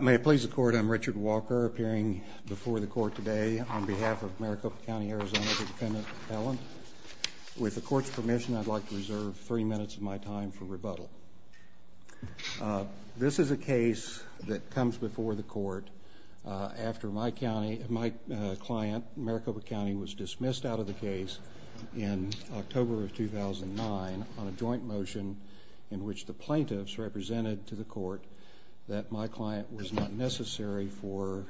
May it please the Court, I'm Richard Walker, appearing before the Court today on behalf of Maricopa County, Arizona's defendant, Helen. With the Court's permission, I'd like to reserve three minutes of my time for rebuttal. This is a case that comes before the Court after my client, Maricopa County, was dismissed out of the case in October of 2009 on a joint motion in which the plaintiffs represented to the Court that my client was not necessary for...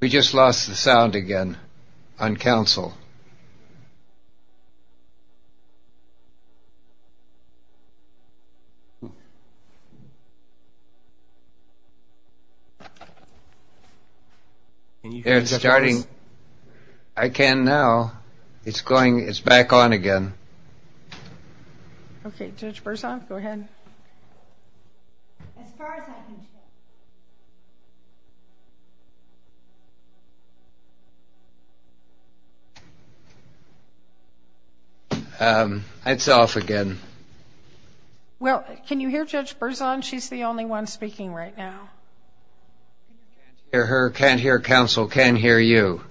We just lost the sound again on counsel. It's starting. I can now. It's going... It's off again. Okay, Judge Berzon, go ahead. It's off again. Well, can you hear Judge Berzon? She's the only one speaking right now. I can't hear her, can't hear counsel, can't hear you.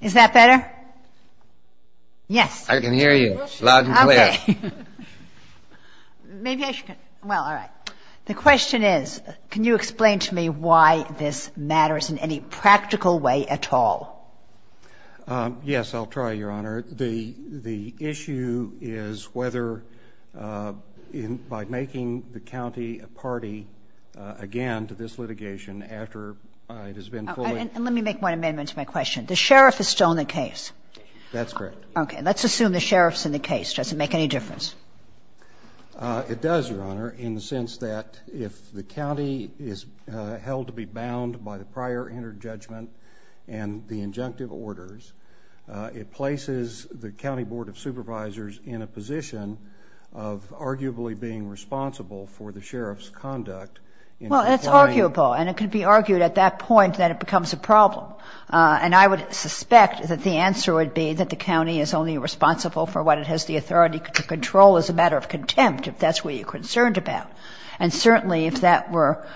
Is that better? Yes. I can hear you loud and clear. Okay. Well, all right. The question is, can you explain to me why this matters in any practical way at all? Yes, I'll try, Your Honor. The issue is whether, by making the county a party again to this litigation after it has been fully... And let me make one amendment to my question. The sheriff is still in the case. Okay. Let's assume the sheriff's in the case. Does it make any difference? It does, Your Honor, in the sense that if the county is held to be bound by the prior inner judgment and the injunctive orders, it places the county board of supervisors in a position of arguably being responsible for the sheriff's conduct in... Well, it's arguable, and it can be argued at that point that it becomes a problem. And I would suspect that the answer would be that the county is only responsible for what it has the authority to control as a matter of contempt, if that's what you're concerned about. And certainly, if that were...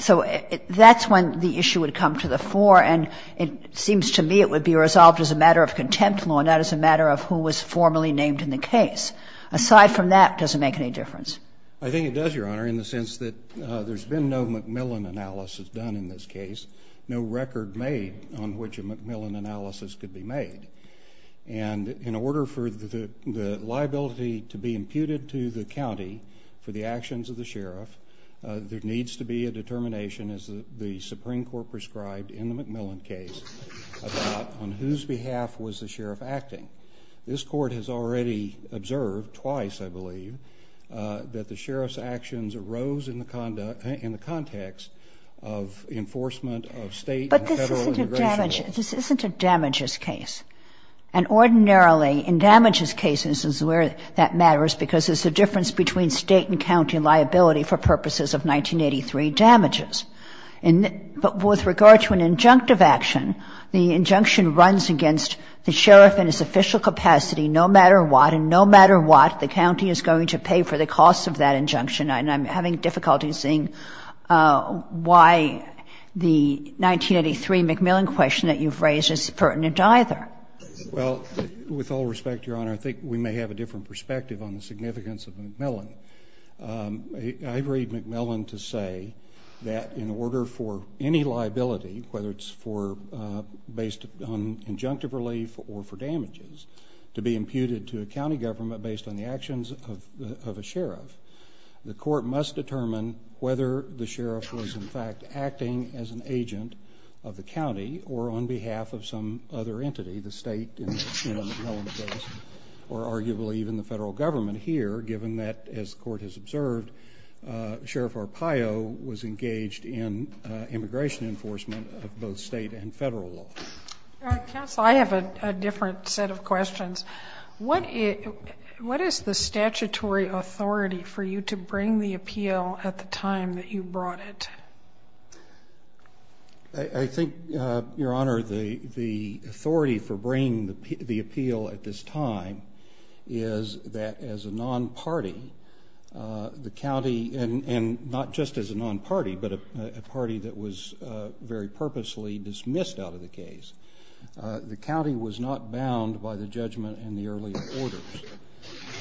So that's when the issue would come to the fore, and it seems to me it would be resolved as a matter of contempt law, not as a matter of who was formally named in the case. Aside from that, does it make any difference? I think it does, Your Honor, in the sense that there's been no MacMillan analysis done in this case, no record made on which a MacMillan analysis could be made. And in order for the liability to be imputed to the county for the actions of the sheriff, there needs to be a determination, as the Supreme Court prescribed in the MacMillan case, about on whose behalf was the sheriff acting. This Court has already observed twice, I believe, that the sheriff's actions arose in the context of enforcement of state and federal immigration laws. This isn't a damages case. And ordinarily, in damages cases is where that matters, because there's a difference between state and county liability for purposes of 1983 damages. But with regard to an injunctive action, the injunction runs against the sheriff in his official capacity no matter what, and no matter what, the county is going to pay for the cost of that injunction. And I'm having difficulty seeing why the 1983 MacMillan question that you've raised is pertinent either. Well, with all respect, Your Honor, I think we may have a different perspective on the significance of MacMillan. I agree with MacMillan to say that in order for any liability, whether it's based on injunctive relief or for damages, to be imputed to a county government based on the statute, the court must determine whether the sheriff was in fact acting as an agent of the county or on behalf of some other entity, the state, or arguably even the federal government here, given that, as the Court has observed, Sheriff Arpaio was engaged in immigration enforcement of both state and federal law. What is the statutory authority for you to bring the appeal at the time that you brought it? I think, Your Honor, the authority for bringing the appeal at this time is that as a non-party, the county, and not just as a non-party, but a party that was very purposely dismissed out of the case, the county was not bound by the judgment and the earlier orders.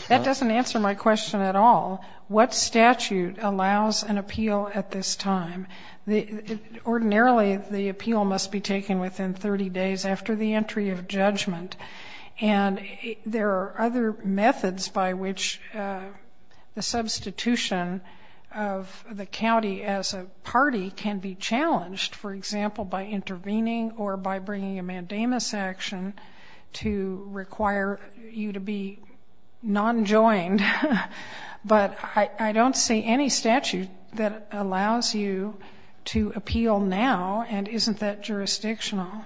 That doesn't answer my question at all. What statute allows an appeal at this time? Ordinarily, the appeal must be taken within 30 days after the entry of judgment, and there are other methods by which the substitution of the county as a party can be challenged, for example, by intervening or by bringing a mandamus action to require you to be non-joined. But I don't see any statute that allows you to appeal now, and isn't that jurisdictional?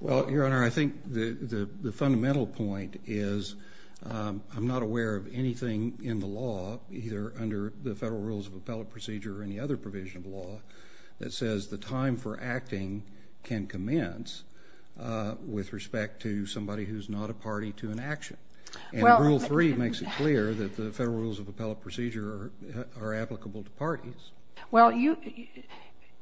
Well, Your Honor, I think the fundamental point is I'm not aware of anything in the law, either under the federal rules of appellate procedure or any other provision of law, that says the time for acting can commence with respect to somebody who's not a party to an action. And Rule 3 makes it clear that the federal rules of appellate procedure are applicable to parties. Well,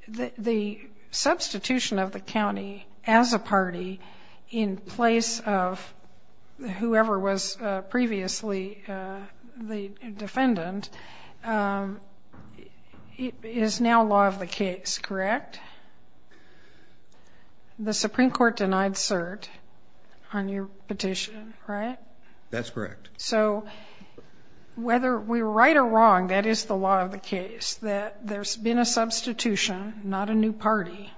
the substitution of the county as a party in place of whoever was previously the defendant is now law of the case, correct? The Supreme Court denied cert on your petition, right? That's correct. So whether we're right or wrong, that is the law of the case, that there's been a substitution, not a new party.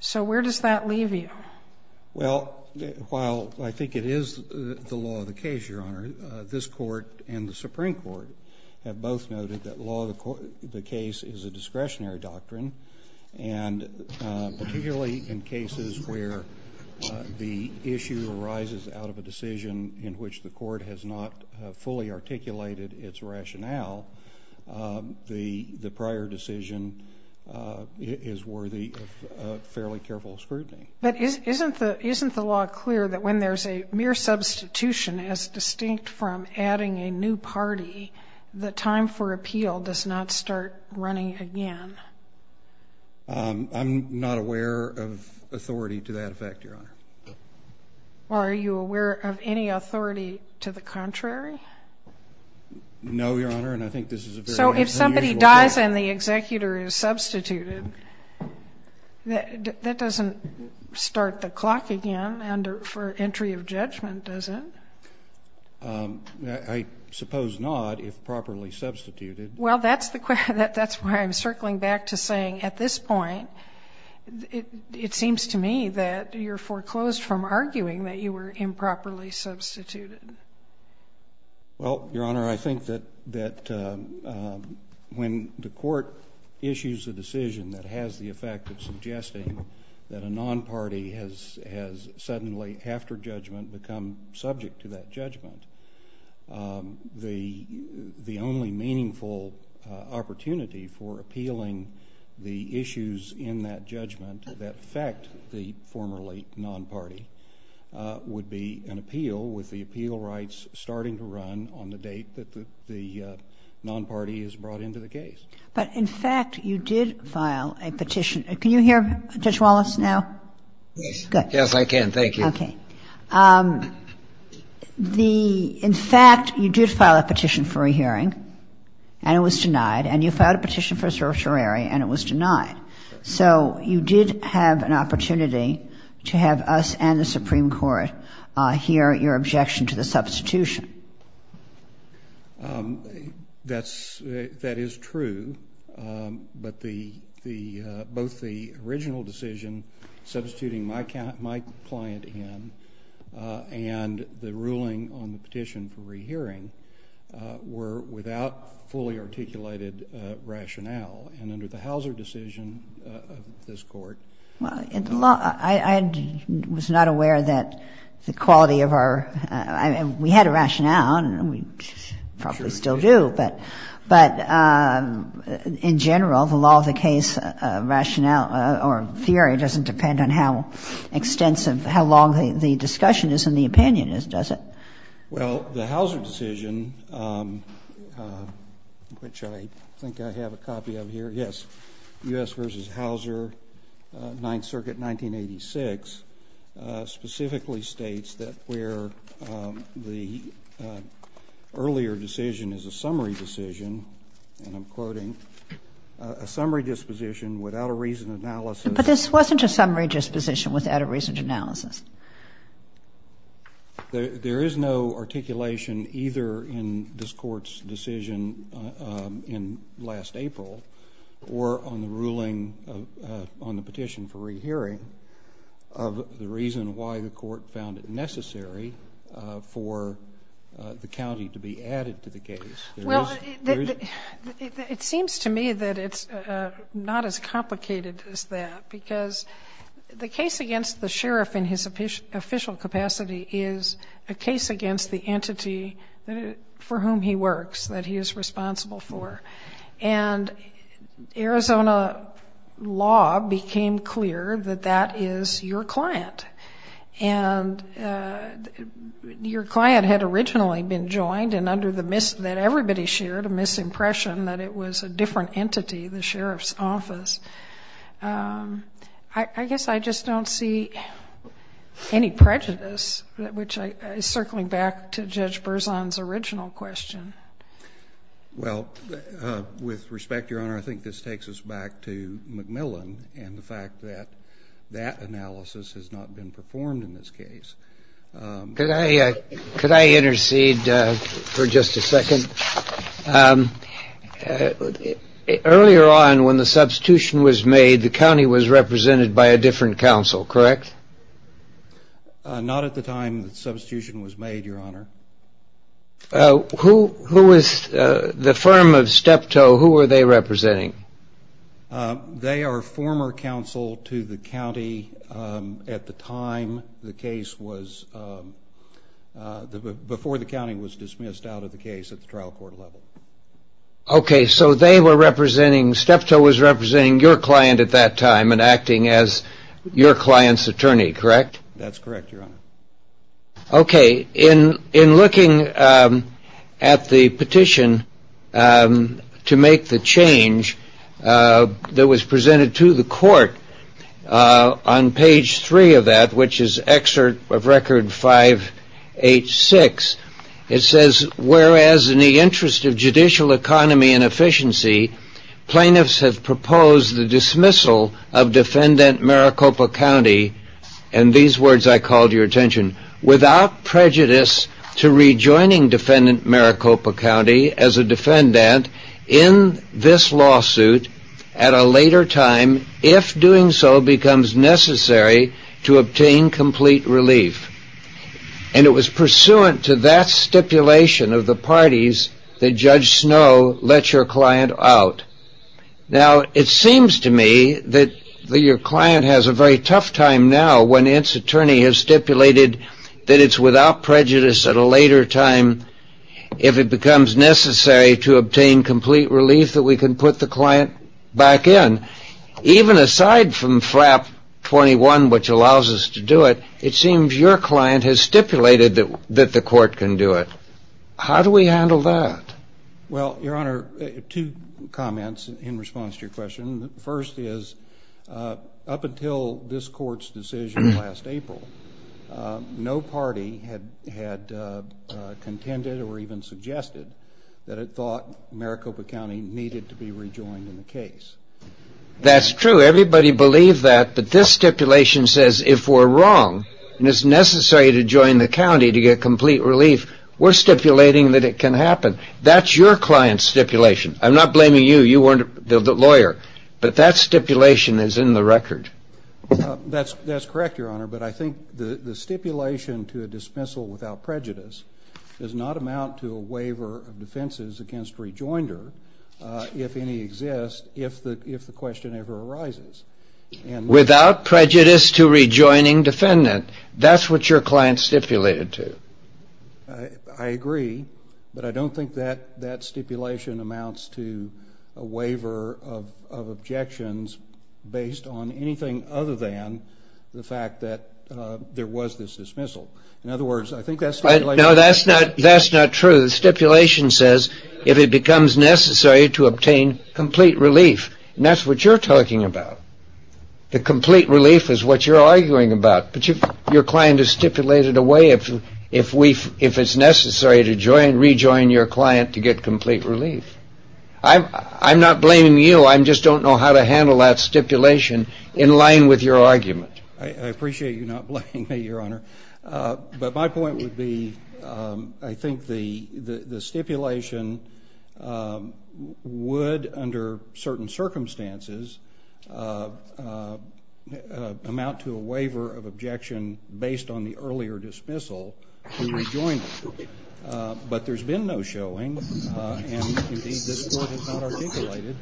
So where does that leave you? Well, while I think it is the law of the case, Your Honor, this Court and the Supreme Court have both noted that law of the case is a discretionary doctrine, and particularly in cases where the issue arises out of a decision in which the court has not fully articulated its rationale, the prior decision is worthy of fairly careful scrutiny. But isn't the law clear that when there's a mere substitution as distinct from adding a new party, the time for appeal does not start running again? I'm not aware of authority to that effect, Your Honor. Are you aware of any authority to the contrary? No, Your Honor, and I think this is a very unusual fact. If the case and the executor is substituted, that doesn't start the clock again for entry of judgment, does it? I suppose not, if properly substituted. Well, that's the question. That's why I'm circling back to saying at this point, it seems to me that you're foreclosed from arguing that you were improperly substituted. Well, Your Honor, I think that when the court issues a decision that has the effect of suggesting that a non-party has suddenly, after judgment, become subject to that judgment, the only meaningful opportunity for appealing the issues in that judgment that affect the formerly non-party would be an appeal with the appeal rights starting to run on the date that the non-party is brought into the case. But, in fact, you did file a petition. Can you hear Judge Wallace now? Yes. Good. Yes, I can. Thank you. Okay. In fact, you did file a petition for a hearing, and it was denied, and you filed a petition for a certiorari, and it was denied. So you did have an opportunity to have us and the Supreme Court hear your objection to the substitution. That is true, but both the original decision, substituting my client in, and the ruling on the petition for rehearing were without fully articulated rationale. And under the Hauser decision of this Court ---- Well, I was not aware that the quality of our ---- we had a rationale, and we probably still do. But in general, the law of the case rationale or theory doesn't depend on how extensive or how long the discussion is and the opinion is, does it? Well, the Hauser decision, which I think I have a copy of here. Yes. U.S. v. Hauser, Ninth Circuit, 1986, specifically states that where the earlier decision is a summary decision, and I'm quoting, a summary disposition without a reasoned analysis ---- But this wasn't a summary disposition without a reasoned analysis. There is no articulation either in this Court's decision in last April or on the ruling on the petition for rehearing of the reason why the Court found it necessary for the county to be added to the case. Well, it seems to me that it's not as complicated as that, because the case against the sheriff in his official capacity is a case against the entity for whom he works, that he is responsible for. And Arizona law became clear that that is your client. And your client had originally been joined, and under the ---- that everybody shared a misimpression that it was a different entity, the sheriff's office. I guess I just don't see any prejudice, which is circling back to Judge Berzon's original question. Well, with respect, Your Honor, I think this takes us back to McMillan and the fact that that analysis has not been performed in this case. Could I intercede for just a second? Earlier on when the substitution was made, the county was represented by a different counsel, correct? Not at the time the substitution was made, Your Honor. Who was the firm of Steptoe, who were they representing? They are former counsel to the county at the time the case was, before the county was dismissed out of the case at the trial court level. Okay, so they were representing, Steptoe was representing your client at that time and acting as your client's attorney, correct? That's correct, Your Honor. Okay, in looking at the petition to make the change that was presented to the court, on page three of that, which is excerpt of record 586, it says, whereas in the interest of judicial economy and efficiency, plaintiffs have proposed the dismissal of defendant Maricopa County, and these words I call to your attention, without prejudice to rejoining defendant Maricopa County as a defendant in this lawsuit at a later time, if doing so becomes necessary to obtain complete relief. And it was pursuant to that stipulation of the parties that Judge Snow let your client out. Now, it seems to me that your client has a very tough time now, when its attorney has stipulated that it's without prejudice at a later time, if it becomes necessary to obtain complete relief, that we can put the client back in. Even aside from FRAP 21, which allows us to do it, it seems your client has stipulated that the court can do it. How do we handle that? Well, Your Honor, two comments in response to your question. The first is, up until this court's decision last April, no party had contended or even suggested that it thought Maricopa County needed to be rejoined in the case. That's true. Everybody believed that. But this stipulation says if we're wrong and it's necessary to join the county to get complete relief, we're stipulating that it can happen. That's your client's stipulation. I'm not blaming you. You weren't the lawyer. But that stipulation is in the record. That's correct, Your Honor. But I think the stipulation to a dismissal without prejudice does not amount to a waiver of defenses against rejoinder, if any exist, if the question ever arises. Without prejudice to rejoining defendant. That's what your client stipulated to. I agree. But I don't think that stipulation amounts to a waiver of objections based on anything other than the fact that there was this dismissal. In other words, I think that stipulation... No, that's not true. The stipulation says if it becomes necessary to obtain complete relief. And that's what you're talking about. The complete relief is what you're arguing about. But your client has stipulated a way, if it's necessary to rejoin your client to get complete relief. I'm not blaming you. I just don't know how to handle that stipulation in line with your argument. I appreciate you not blaming me, Your Honor. But my point would be I think the stipulation would, under certain circumstances, amount to a waiver of objection based on the earlier dismissal to rejoinder. But there's been no showing and, indeed, this Court has not articulated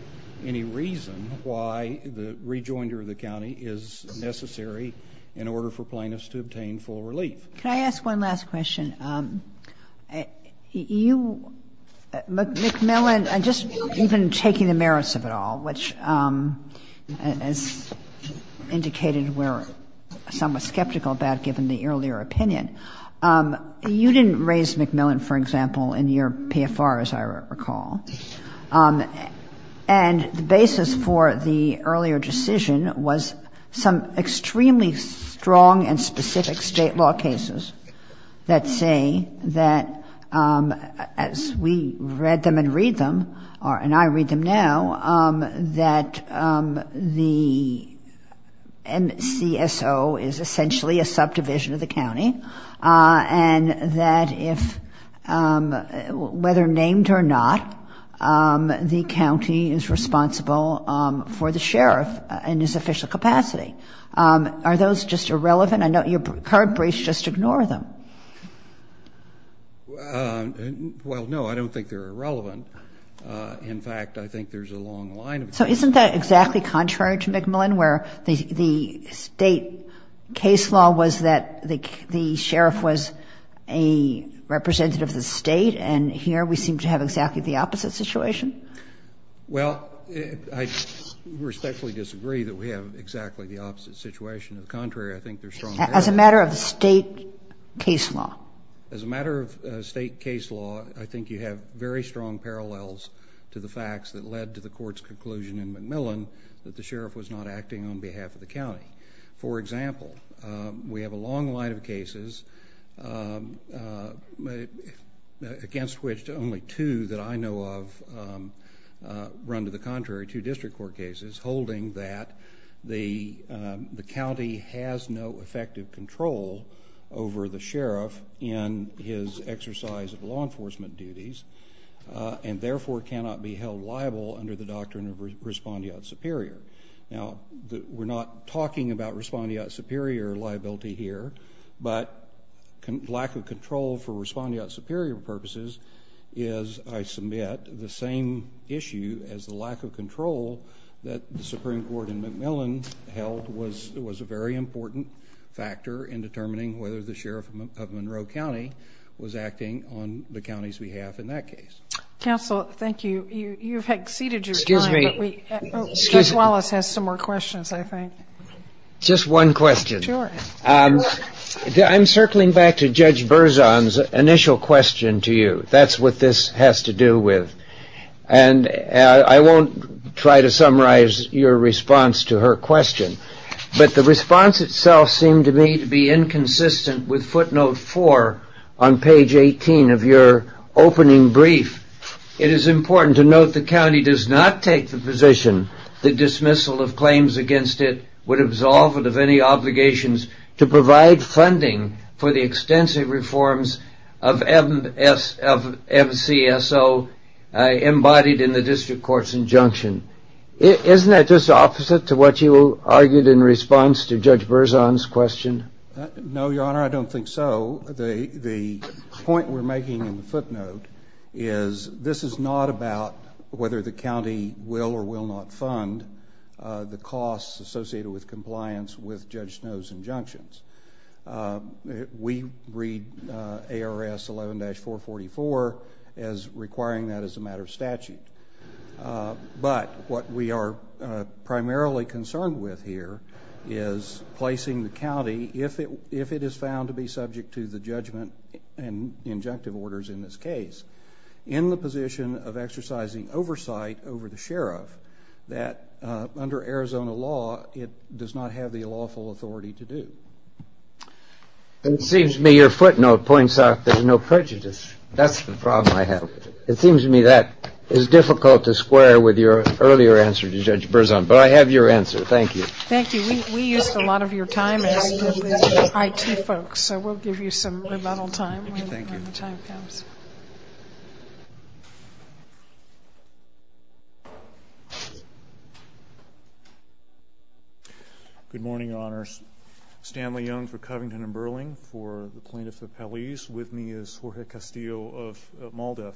any reason why the rejoinder of the county is necessary in order for plaintiffs to obtain full relief. Can I ask one last question? You, McMillan, and just even taking the merits of it all, which, as indicated, were somewhat skeptical about given the earlier opinion, you didn't raise McMillan, for example, in your PFR, as I recall. And the basis for the earlier decision was some extremely strong and specific state law cases that say that, as we read them and read them, and I read them now, that the NCSO is essentially a subdivision of the county, and that if, whether named or not, the county is responsible for the sheriff in his official capacity. Are those just irrelevant? I know your current briefs just ignore them. Well, no, I don't think they're irrelevant. In fact, I think there's a long line of them. So isn't that exactly contrary to McMillan, where the State case law was that the sheriff was a representative of the State, and here we seem to have exactly the opposite situation? Well, I respectfully disagree that we have exactly the opposite situation. On the contrary, I think there's strong parallels. As a matter of the State case law? As a matter of State case law, I think you have very strong parallels to the facts that led to the Court's conclusion in McMillan that the sheriff was not acting on behalf of the county. For example, we have a long line of cases, against which only two that I know of run to the contrary, two district court cases holding that the county has no effective control over the sheriff in his exercise of law enforcement duties and therefore cannot be held liable under the doctrine of respondeat superior. Now, we're not talking about respondeat superior liability here, but lack of control for respondeat superior purposes is, I submit, the same issue as the lack of control that the Supreme Court in McMillan held was a very important factor in determining whether the sheriff of Monroe County was acting on the county's behalf in that case. Counsel, thank you. You've exceeded your time, but Judge Wallace has some more questions, I think. Just one question. I'm circling back to Judge Berzon's initial question to you. That's what this has to do with. And I won't try to summarize your response to her question, but the response itself seemed to me to be inconsistent with footnote four on page 18 of your opening brief. It is important to note the county does not take the position that dismissal of claims against it would absolve it of any obligations to provide funding for the extensive reforms of MCSO embodied in the district court's injunction. Isn't that just opposite to what you argued in response to Judge Berzon's question? No, Your Honor, I don't think so. The point we're making in the footnote is this is not about whether the county will or will not fund the costs associated with compliance with Judge Snow's injunctions. We read ARS 11-444 as requiring that as a matter of statute. But what we are primarily concerned with here is placing the county, if it is found to be subject to the judgment and injunctive orders in this case, in the position of exercising oversight over the sheriff that under Arizona law it does not have the lawful authority to do. It seems to me your footnote points out there's no prejudice. That's the problem I have. It seems to me that is difficult to square with your earlier answer to Judge Berzon, but I have your answer. Thank you. Thank you. We used a lot of your time as IT folks, so we'll give you some rebuttal time when the time comes. Thank you. Good morning, Your Honors. Stanley Young for Covington & Burling for the Plaintiff's Appellees. With me is Jorge Castillo of MALDEF.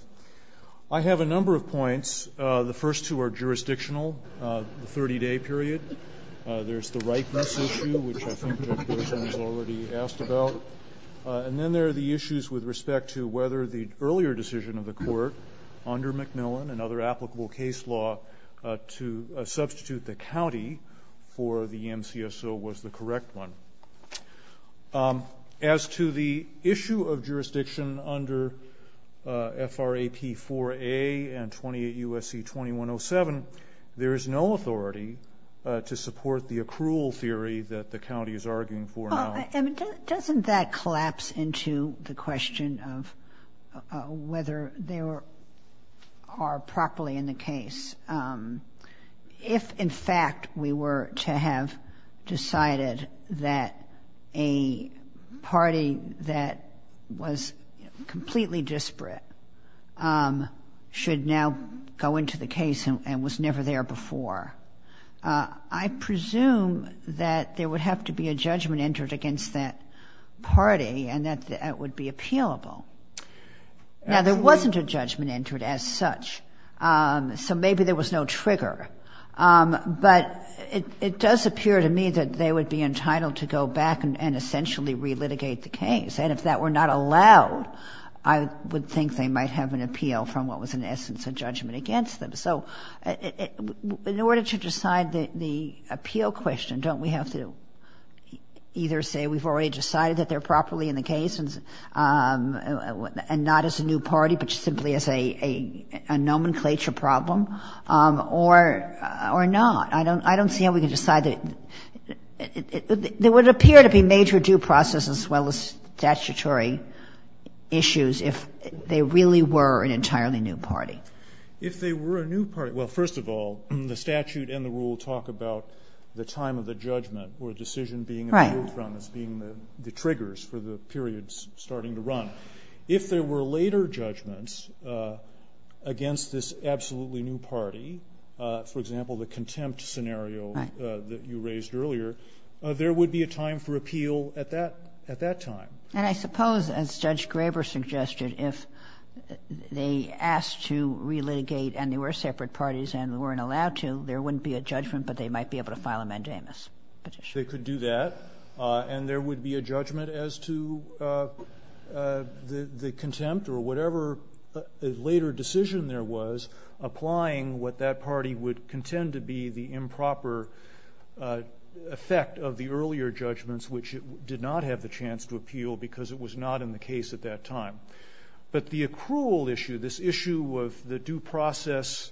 I have a number of points. The first two are jurisdictional, the 30-day period. There's the rightness issue, which I think Judge Berzon has already asked about. And then there are the issues with respect to whether the earlier decision of the court under McMillan and other applicable case law to substitute the county for the MCSO was the correct one. As to the issue of jurisdiction under FRAP 4A and 28 U.S.C. 2107, there is no authority to support the accrual theory that the county is arguing for now. Doesn't that collapse into the question of whether they are properly in the case? If, in fact, we were to have decided that a party that was completely disparate should now go into the case and was never there before, I presume that there would have to be a judgment entered against that party and that that would be appealable. Now, there wasn't a judgment entered as such. So maybe there was no trigger. But it does appear to me that they would be entitled to go back and essentially relitigate the case. And if that were not allowed, I would think they might have an appeal from what was in essence a judgment against them. So in order to decide the appeal question, don't we have to either say we've already decided that they're properly in the case and not as a new party, but simply as a nomenclature problem, or not? I don't see how we can decide that. There would appear to be major due process as well as statutory issues if they really were an entirely new party. If they were a new party. Well, first of all, the statute and the rule talk about the time of the judgment or decision being appealed from as being the triggers for the periods starting to run. If there were later judgments against this absolutely new party, for example, the contempt scenario that you raised earlier, there would be a time for appeal at that time. And I suppose, as Judge Graber suggested, if they asked to relitigate and there were separate parties and weren't allowed to, there wouldn't be a judgment, but they might be able to file a mandamus petition. They could do that. And there would be a judgment as to the contempt or whatever later decision there was, applying what that party would contend to be the improper effect of the earlier judgments, which did not have the chance to appeal because it was not in the case at that time. But the accrual issue, this issue of the due process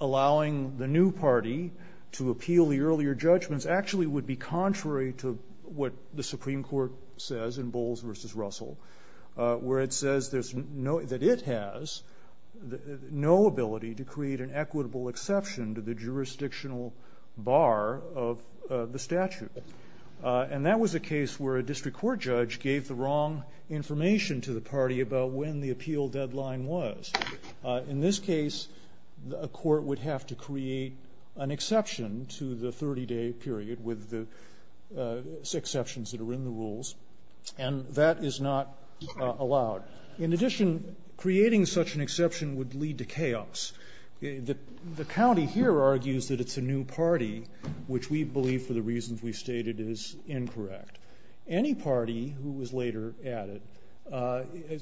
allowing the new party to appeal the earlier judgments, actually would be contrary to what the Supreme Court says in Bowles v. Russell, where it says that it has no ability to create an equitable exception to the jurisdictional bar of the statute. And that was a case where a district court judge gave the wrong information to the party about when the appeal deadline was. In this case, a court would have to create an exception to the 30-day period with the exceptions that are in the rules, and that is not allowed. In addition, creating such an exception would lead to chaos. The county here argues that it's a new party, which we believe for the reasons we've stated is incorrect. Any party who was later added,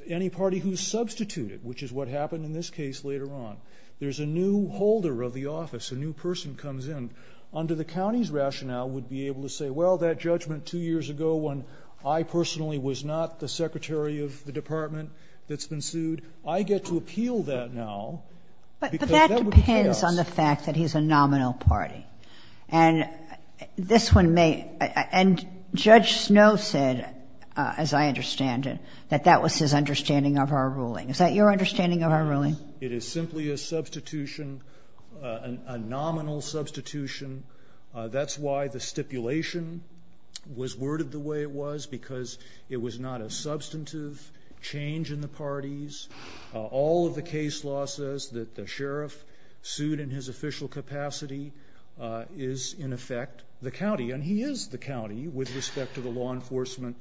any party who substituted, which is what happened in this case later on, there's a new holder of the office, a new person comes in, under the county's rationale would be able to say, well, that judgment two years ago when I personally was not the secretary of the department that's been sued, I get to appeal that now. Because that would be chaos. But that depends on the fact that he's a nominal party. And this one may – and Judge Snow said, as I understand it, that that was his understanding of our ruling. Is that your understanding of our ruling? Yes. It is simply a substitution, a nominal substitution. That's why the stipulation was worded the way it was, because it was not a substantive change in the parties. All of the case law says that the sheriff sued in his official capacity is, in effect, the county. And he is the county with respect to the law enforcement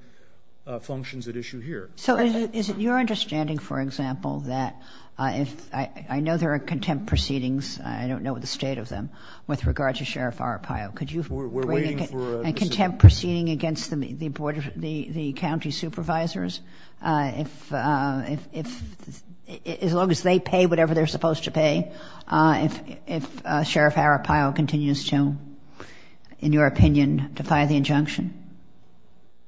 functions at issue here. So is it your understanding, for example, that if – I know there are contempt proceedings. I don't know the state of them with regard to Sheriff Arpaio. Could you bring a contempt proceeding against the county supervisors? If – as long as they pay whatever they're supposed to pay, if Sheriff Arpaio continues to, in your opinion, defy the injunction?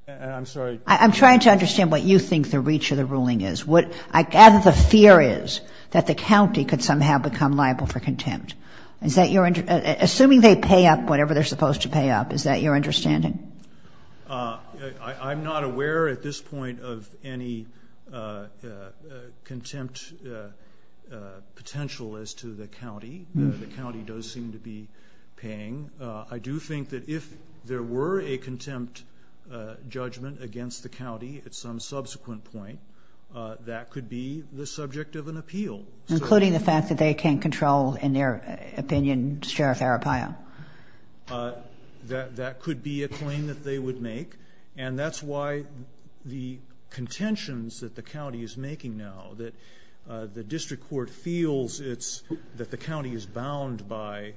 I'm sorry. I'm trying to understand what you think the reach of the ruling is. I gather the fear is that the county could somehow become liable for contempt. Is that your – assuming they pay up whatever they're supposed to pay up, is that your understanding? I'm not aware at this point of any contempt potential as to the county. The county does seem to be paying. I do think that if there were a contempt judgment against the county at some subsequent point, that could be the subject of an appeal. Including the fact that they can't control, in their opinion, Sheriff Arpaio? That could be a claim that they would make. And that's why the contentions that the county is making now, that the district court feels it's – that the county is bound by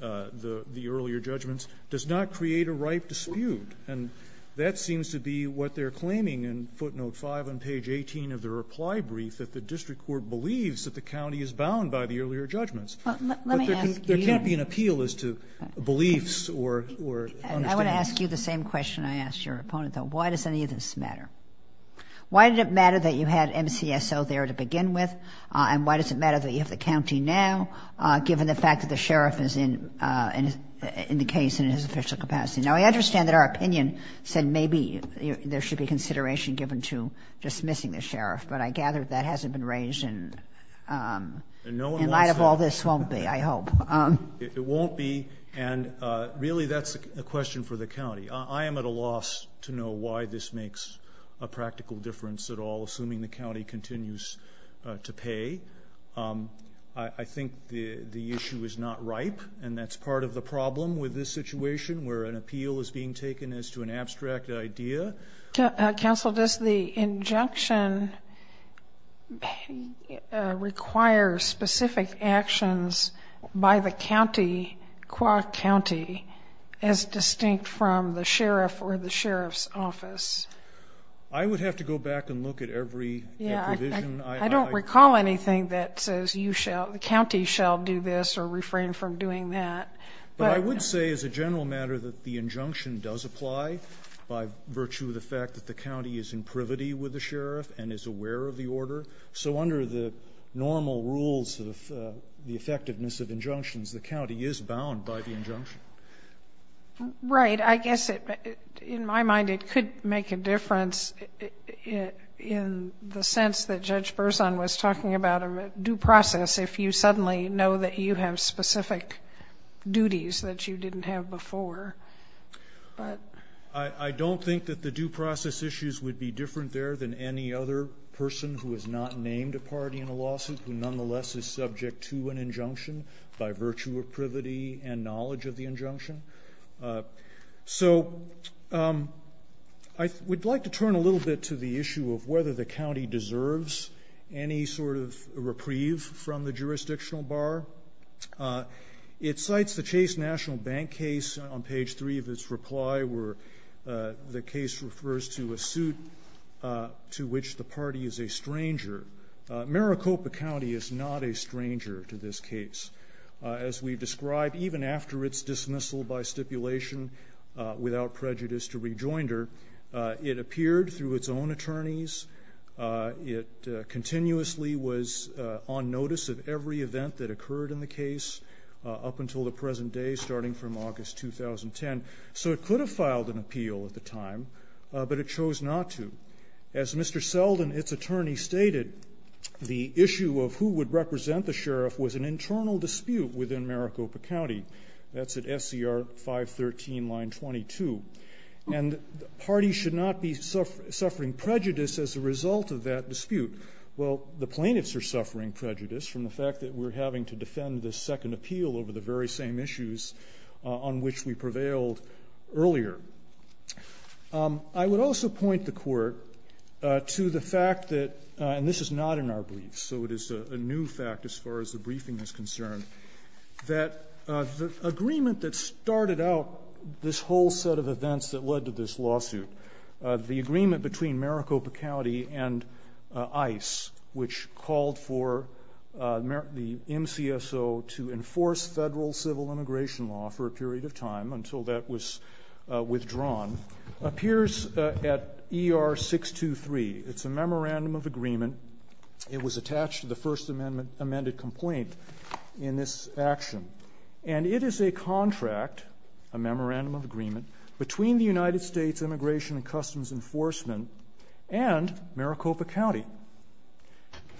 the earlier judgments, does not create a ripe dispute. And that seems to be what they're claiming in footnote 5 on page 18 of the reply brief, that the district court believes that the county is bound by the earlier judgments. Let me ask you – But there can't be an appeal as to beliefs or – I want to ask you the same question I asked your opponent, though. Why does any of this matter? Why did it matter that you had MCSO there to begin with? And why does it matter that you have the county now, given the fact that the sheriff is in the case in his official capacity? Now, I understand that our opinion said maybe there should be consideration given to dismissing the sheriff. But I gather that hasn't been raised in light of all this, won't be, I hope. It won't be. And really, that's a question for the county. I am at a loss to know why this makes a practical difference at all, assuming the county continues to pay. I think the issue is not ripe, and that's part of the problem with this situation, where an appeal is being taken as to an abstract idea. Counsel, does the injunction require specific actions by the county, qua county, as distinct from the sheriff or the sheriff's office? I would have to go back and look at every provision. I don't recall anything that says the county shall do this or refrain from doing that. But I would say as a general matter that the injunction does apply by virtue of the fact that the county is in privity with the sheriff and is aware of the order. So under the normal rules of the effectiveness of injunctions, the county is bound by the injunction. Right. I guess in my mind it could make a difference in the sense that Judge Berzon was talking about due process if you suddenly know that you have specific duties that you didn't have before. I don't think that the due process issues would be different there than any other person who has not named a party in a lawsuit who nonetheless is subject to an injunction by virtue of privity and knowledge of the injunction. So I would like to turn a little bit to the issue of whether the county deserves any sort of reprieve from the jurisdictional bar. It cites the Chase National Bank case on page three of its reply where the case refers to a suit to which the party is a stranger. Maricopa County is not a stranger to this case. As we've described, even after its dismissal by stipulation without prejudice to rejoinder, it appeared through its own attorneys. It continuously was on notice of every event that occurred in the case up until the present day, starting from August 2010. So it could have filed an appeal at the time, but it chose not to. As Mr. Selden, its attorney, stated, the issue of who would represent the sheriff was an internal dispute within Maricopa County. That's at SCR 513, line 22. And the party should not be suffering prejudice as a result of that dispute. Well, the plaintiffs are suffering prejudice from the fact that we're having to defend this second appeal over the very same issues on which we prevailed earlier. I would also point the court to the fact that, and this is not in our briefs, so it is a new fact as far as the briefing is concerned, that the agreement that started out this whole set of events that led to this lawsuit, the agreement between Maricopa County and ICE, which called for the MCSO to enforce federal civil immigration law for a period of time until that was withdrawn, appears at ER 623. It's a memorandum of agreement. It was attached to the first amended complaint in this action. And it is a contract, a memorandum of agreement, between the United States Immigration and Customs Enforcement and Maricopa County.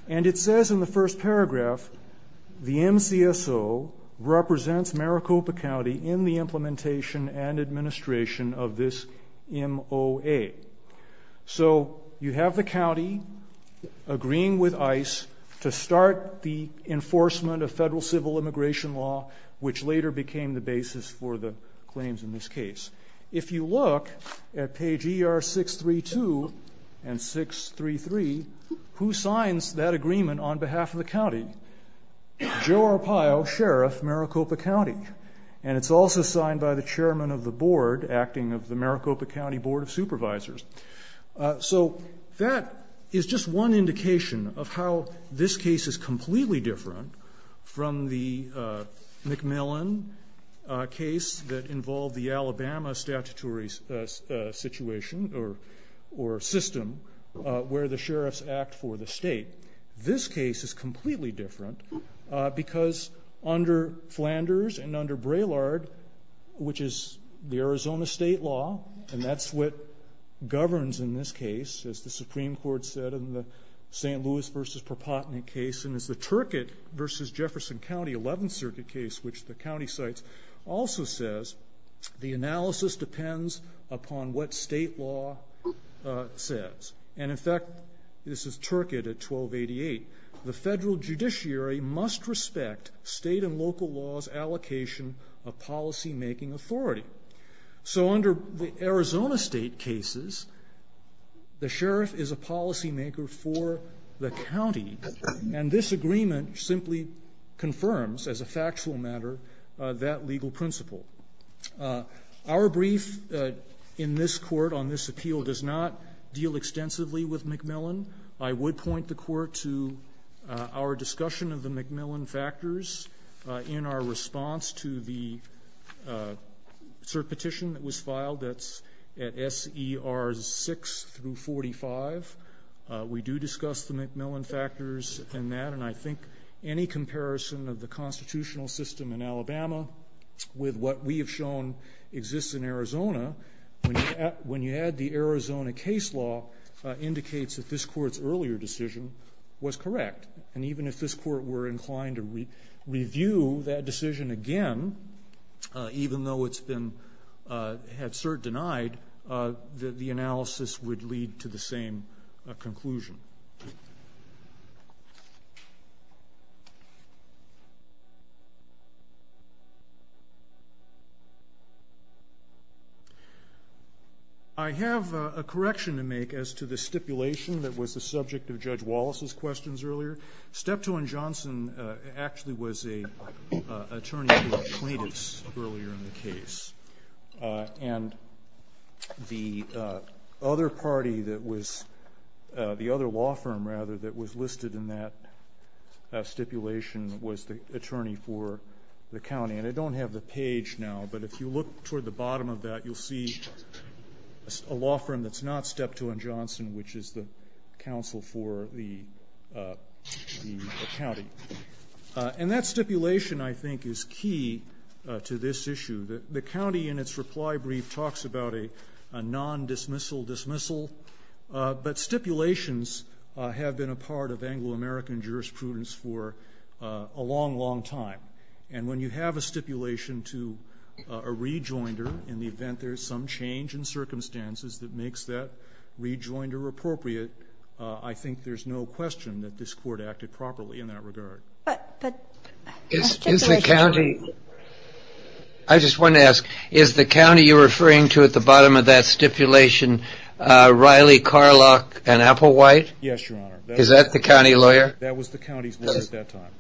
And it says in the first paragraph, the MCSO represents Maricopa County in the implementation and administration of this MOA. So you have the county agreeing with ICE to start the enforcement of federal civil immigration law, which later became the basis for the claims in this case. If you look at page ER 632 and 633, who signs that agreement on behalf of the county? Joe Arpaio, sheriff, Maricopa County. And it's also signed by the chairman of the board acting of the Maricopa County Board of Supervisors. So that is just one indication of how this case is completely different from the McMillan case that involved the Alabama statutory situation or system where the sheriffs act for the state. This case is completely different because under Flanders and under Braylard, which is the Arizona state law, and that's what governs in this case, as the Supreme Court said in the St. Louis v. Perpotnick case, and it's the Turcotte v. Jefferson County 11th Circuit case, which the county cites, also says the analysis depends upon what state law says. And, in fact, this is Turcotte at 1288. The federal judiciary must respect state and local law's allocation of policymaking authority. So under the Arizona state cases, the sheriff is a policymaker for the county, and this agreement simply confirms, as a factual matter, that legal principle. Our brief in this court on this appeal does not deal extensively with McMillan. I would point the court to our discussion of the McMillan factors in our response to the cert petition that was filed. That's at S.E.R. 6 through 45. We do discuss the McMillan factors in that, and I think any comparison of the constitutional system in Alabama with what we have shown exists in Arizona, when you add the Arizona case law, indicates that this court's earlier decision was correct. And even if this court were inclined to review that decision again, even though it's been had cert denied, the analysis would lead to the same conclusion. I have a correction to make as to the stipulation that was the subject of Judge Wallace's questions earlier. Steptoe and Johnson actually was an attorney for plaintiffs earlier in the case, and the other law firm that was listed in that stipulation was the attorney for the county. And I don't have the page now, but if you look toward the bottom of that, you'll see a law firm that's not Steptoe and Johnson, which is the counsel for the county. And that stipulation, I think, is key to this issue. The county in its reply brief talks about a non-dismissal dismissal, but stipulations have been a part of Anglo-American jurisprudence for a long, long time. And when you have a stipulation to a rejoinder, in the event there's some change in circumstances that makes that rejoinder appropriate, I think there's no question that this court acted properly in that regard. I just wanted to ask, is the county you're referring to at the bottom of that stipulation Riley, Carlock, and Applewhite? Yes, Your Honor. Is that the county lawyer? That was the county's lawyer at that time.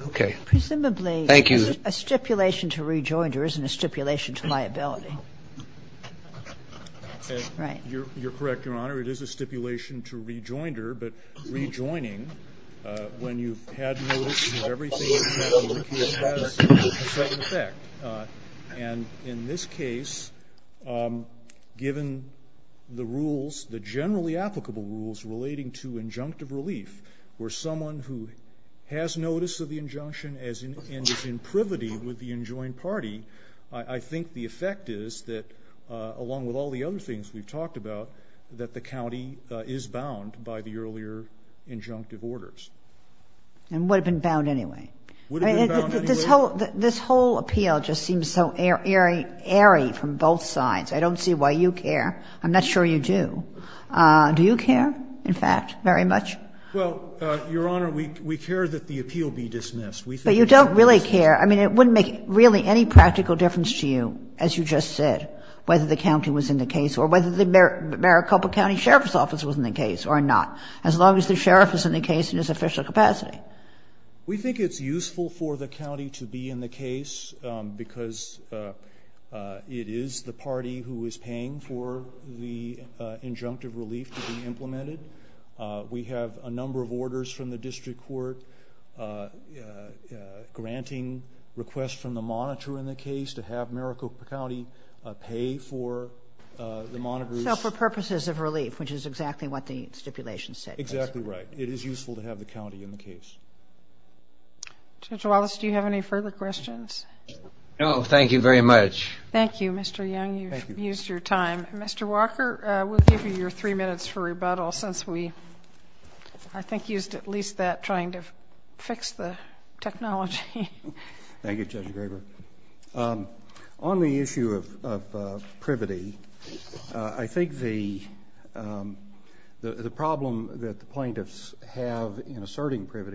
Okay. Thank you. Presumably a stipulation to rejoinder isn't a stipulation to liability. Right. You're correct, Your Honor. It is a stipulation to rejoinder, but rejoining, when you've had notice of everything that's happened, it has a second effect. And in this case, given the rules, the generally applicable rules relating to injunctive relief, where someone who has notice of the injunction and is in privity with the enjoined party, I think the effect is that, along with all the other things we've talked about, that the county is bound by the earlier injunctive orders. And would have been bound anyway. Would have been bound anyway. This whole appeal just seems so airy from both sides. I don't see why you care. I'm not sure you do. Do you care, in fact, very much? Well, Your Honor, we care that the appeal be dismissed. But you don't really care. I mean, it wouldn't make really any practical difference to you, as you just said, whether the county was in the case or whether the Maricopa County Sheriff's Office was in the case or not, as long as the sheriff is in the case in his official capacity. We think it's useful for the county to be in the case because it is the party who is paying for the injunctive relief to be implemented. We have a number of orders from the district court granting requests from the monitor in the case to have Maricopa County pay for the monitors. So for purposes of relief, which is exactly what the stipulation said. Exactly right. It is useful to have the county in the case. Judge Wallace, do you have any further questions? No, thank you very much. Thank you, Mr. Young. You've used your time. Mr. Walker, we'll give you your three minutes for rebuttal since we, I think, used at least that trying to fix the technology. Thank you, Judge Graber. On the issue of privity, I think the problem that the plaintiffs have in asserting that there had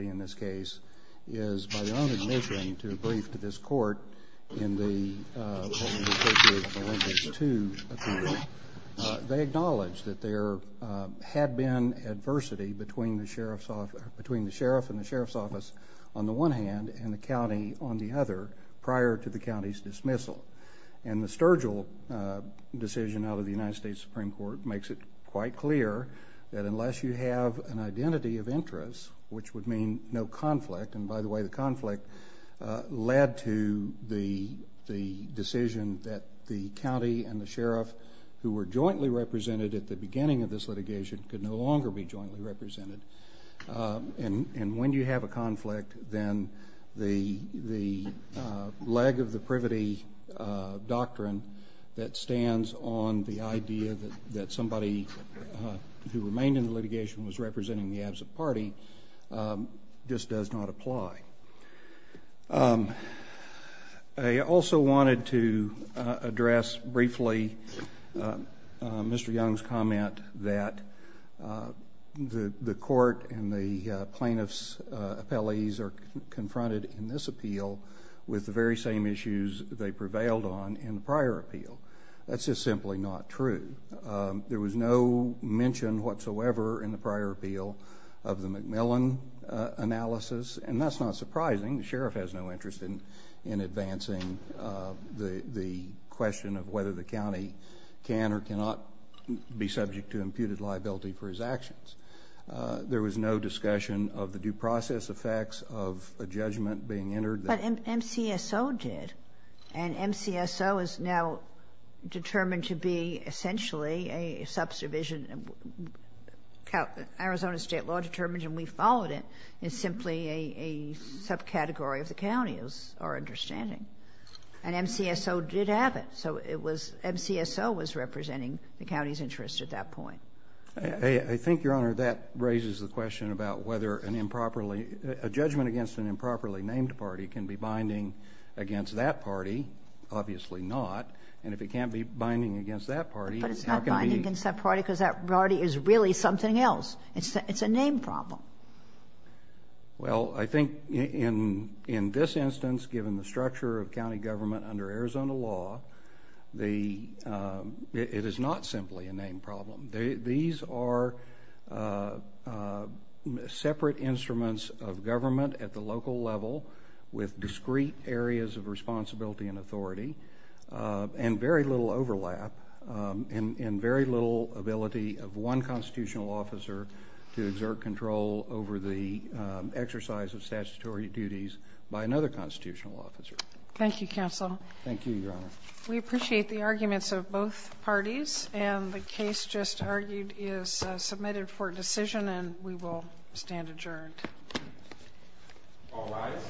been adversity between the sheriff and the sheriff's office on the one hand and the county on the other prior to the county's dismissal. And the Sturgill decision out of the United States Supreme Court makes it quite clear that unless you have an identity of interest, which would mean no add to the decision that the county and the sheriff, who were jointly represented at the beginning of this litigation, could no longer be jointly represented. And when you have a conflict, then the leg of the privity doctrine that stands on the idea that somebody who remained in the litigation was representing the absent party just does not apply. I also wanted to address briefly Mr. Young's comment that the court and the plaintiffs' appellees are confronted in this appeal with the very same issues they prevailed on in the prior appeal. That's just simply not true. There was no mention whatsoever in the prior appeal of the McMillan analysis. And that's not surprising. The sheriff has no interest in advancing the question of whether the county can or cannot be subject to imputed liability for his actions. There was no discussion of the due process effects of a judgment being entered. But MCSO did. And MCSO is now determined to be essentially a subdivision. Arizona state law determined, and we followed it, is simply a subcategory of the county, is our understanding. And MCSO did have it. So MCSO was representing the county's interest at that point. I think, Your Honor, that raises the question about whether a judgment against an improperly can be binding against that party. Obviously not. And if it can't be binding against that party, how can we... But it's not binding against that party because that party is really something else. It's a name problem. Well, I think in this instance, given the structure of county government under Arizona law, it is not simply a name problem. These are separate instruments of government at the local level with discrete areas of responsibility and authority and very little overlap and very little ability of one constitutional officer to exert control over the exercise of statutory duties by another constitutional officer. Thank you, Counsel. Thank you, Your Honor. We appreciate the arguments of both parties. And the case just argued is submitted for decision, and we will stand adjourned. All rise.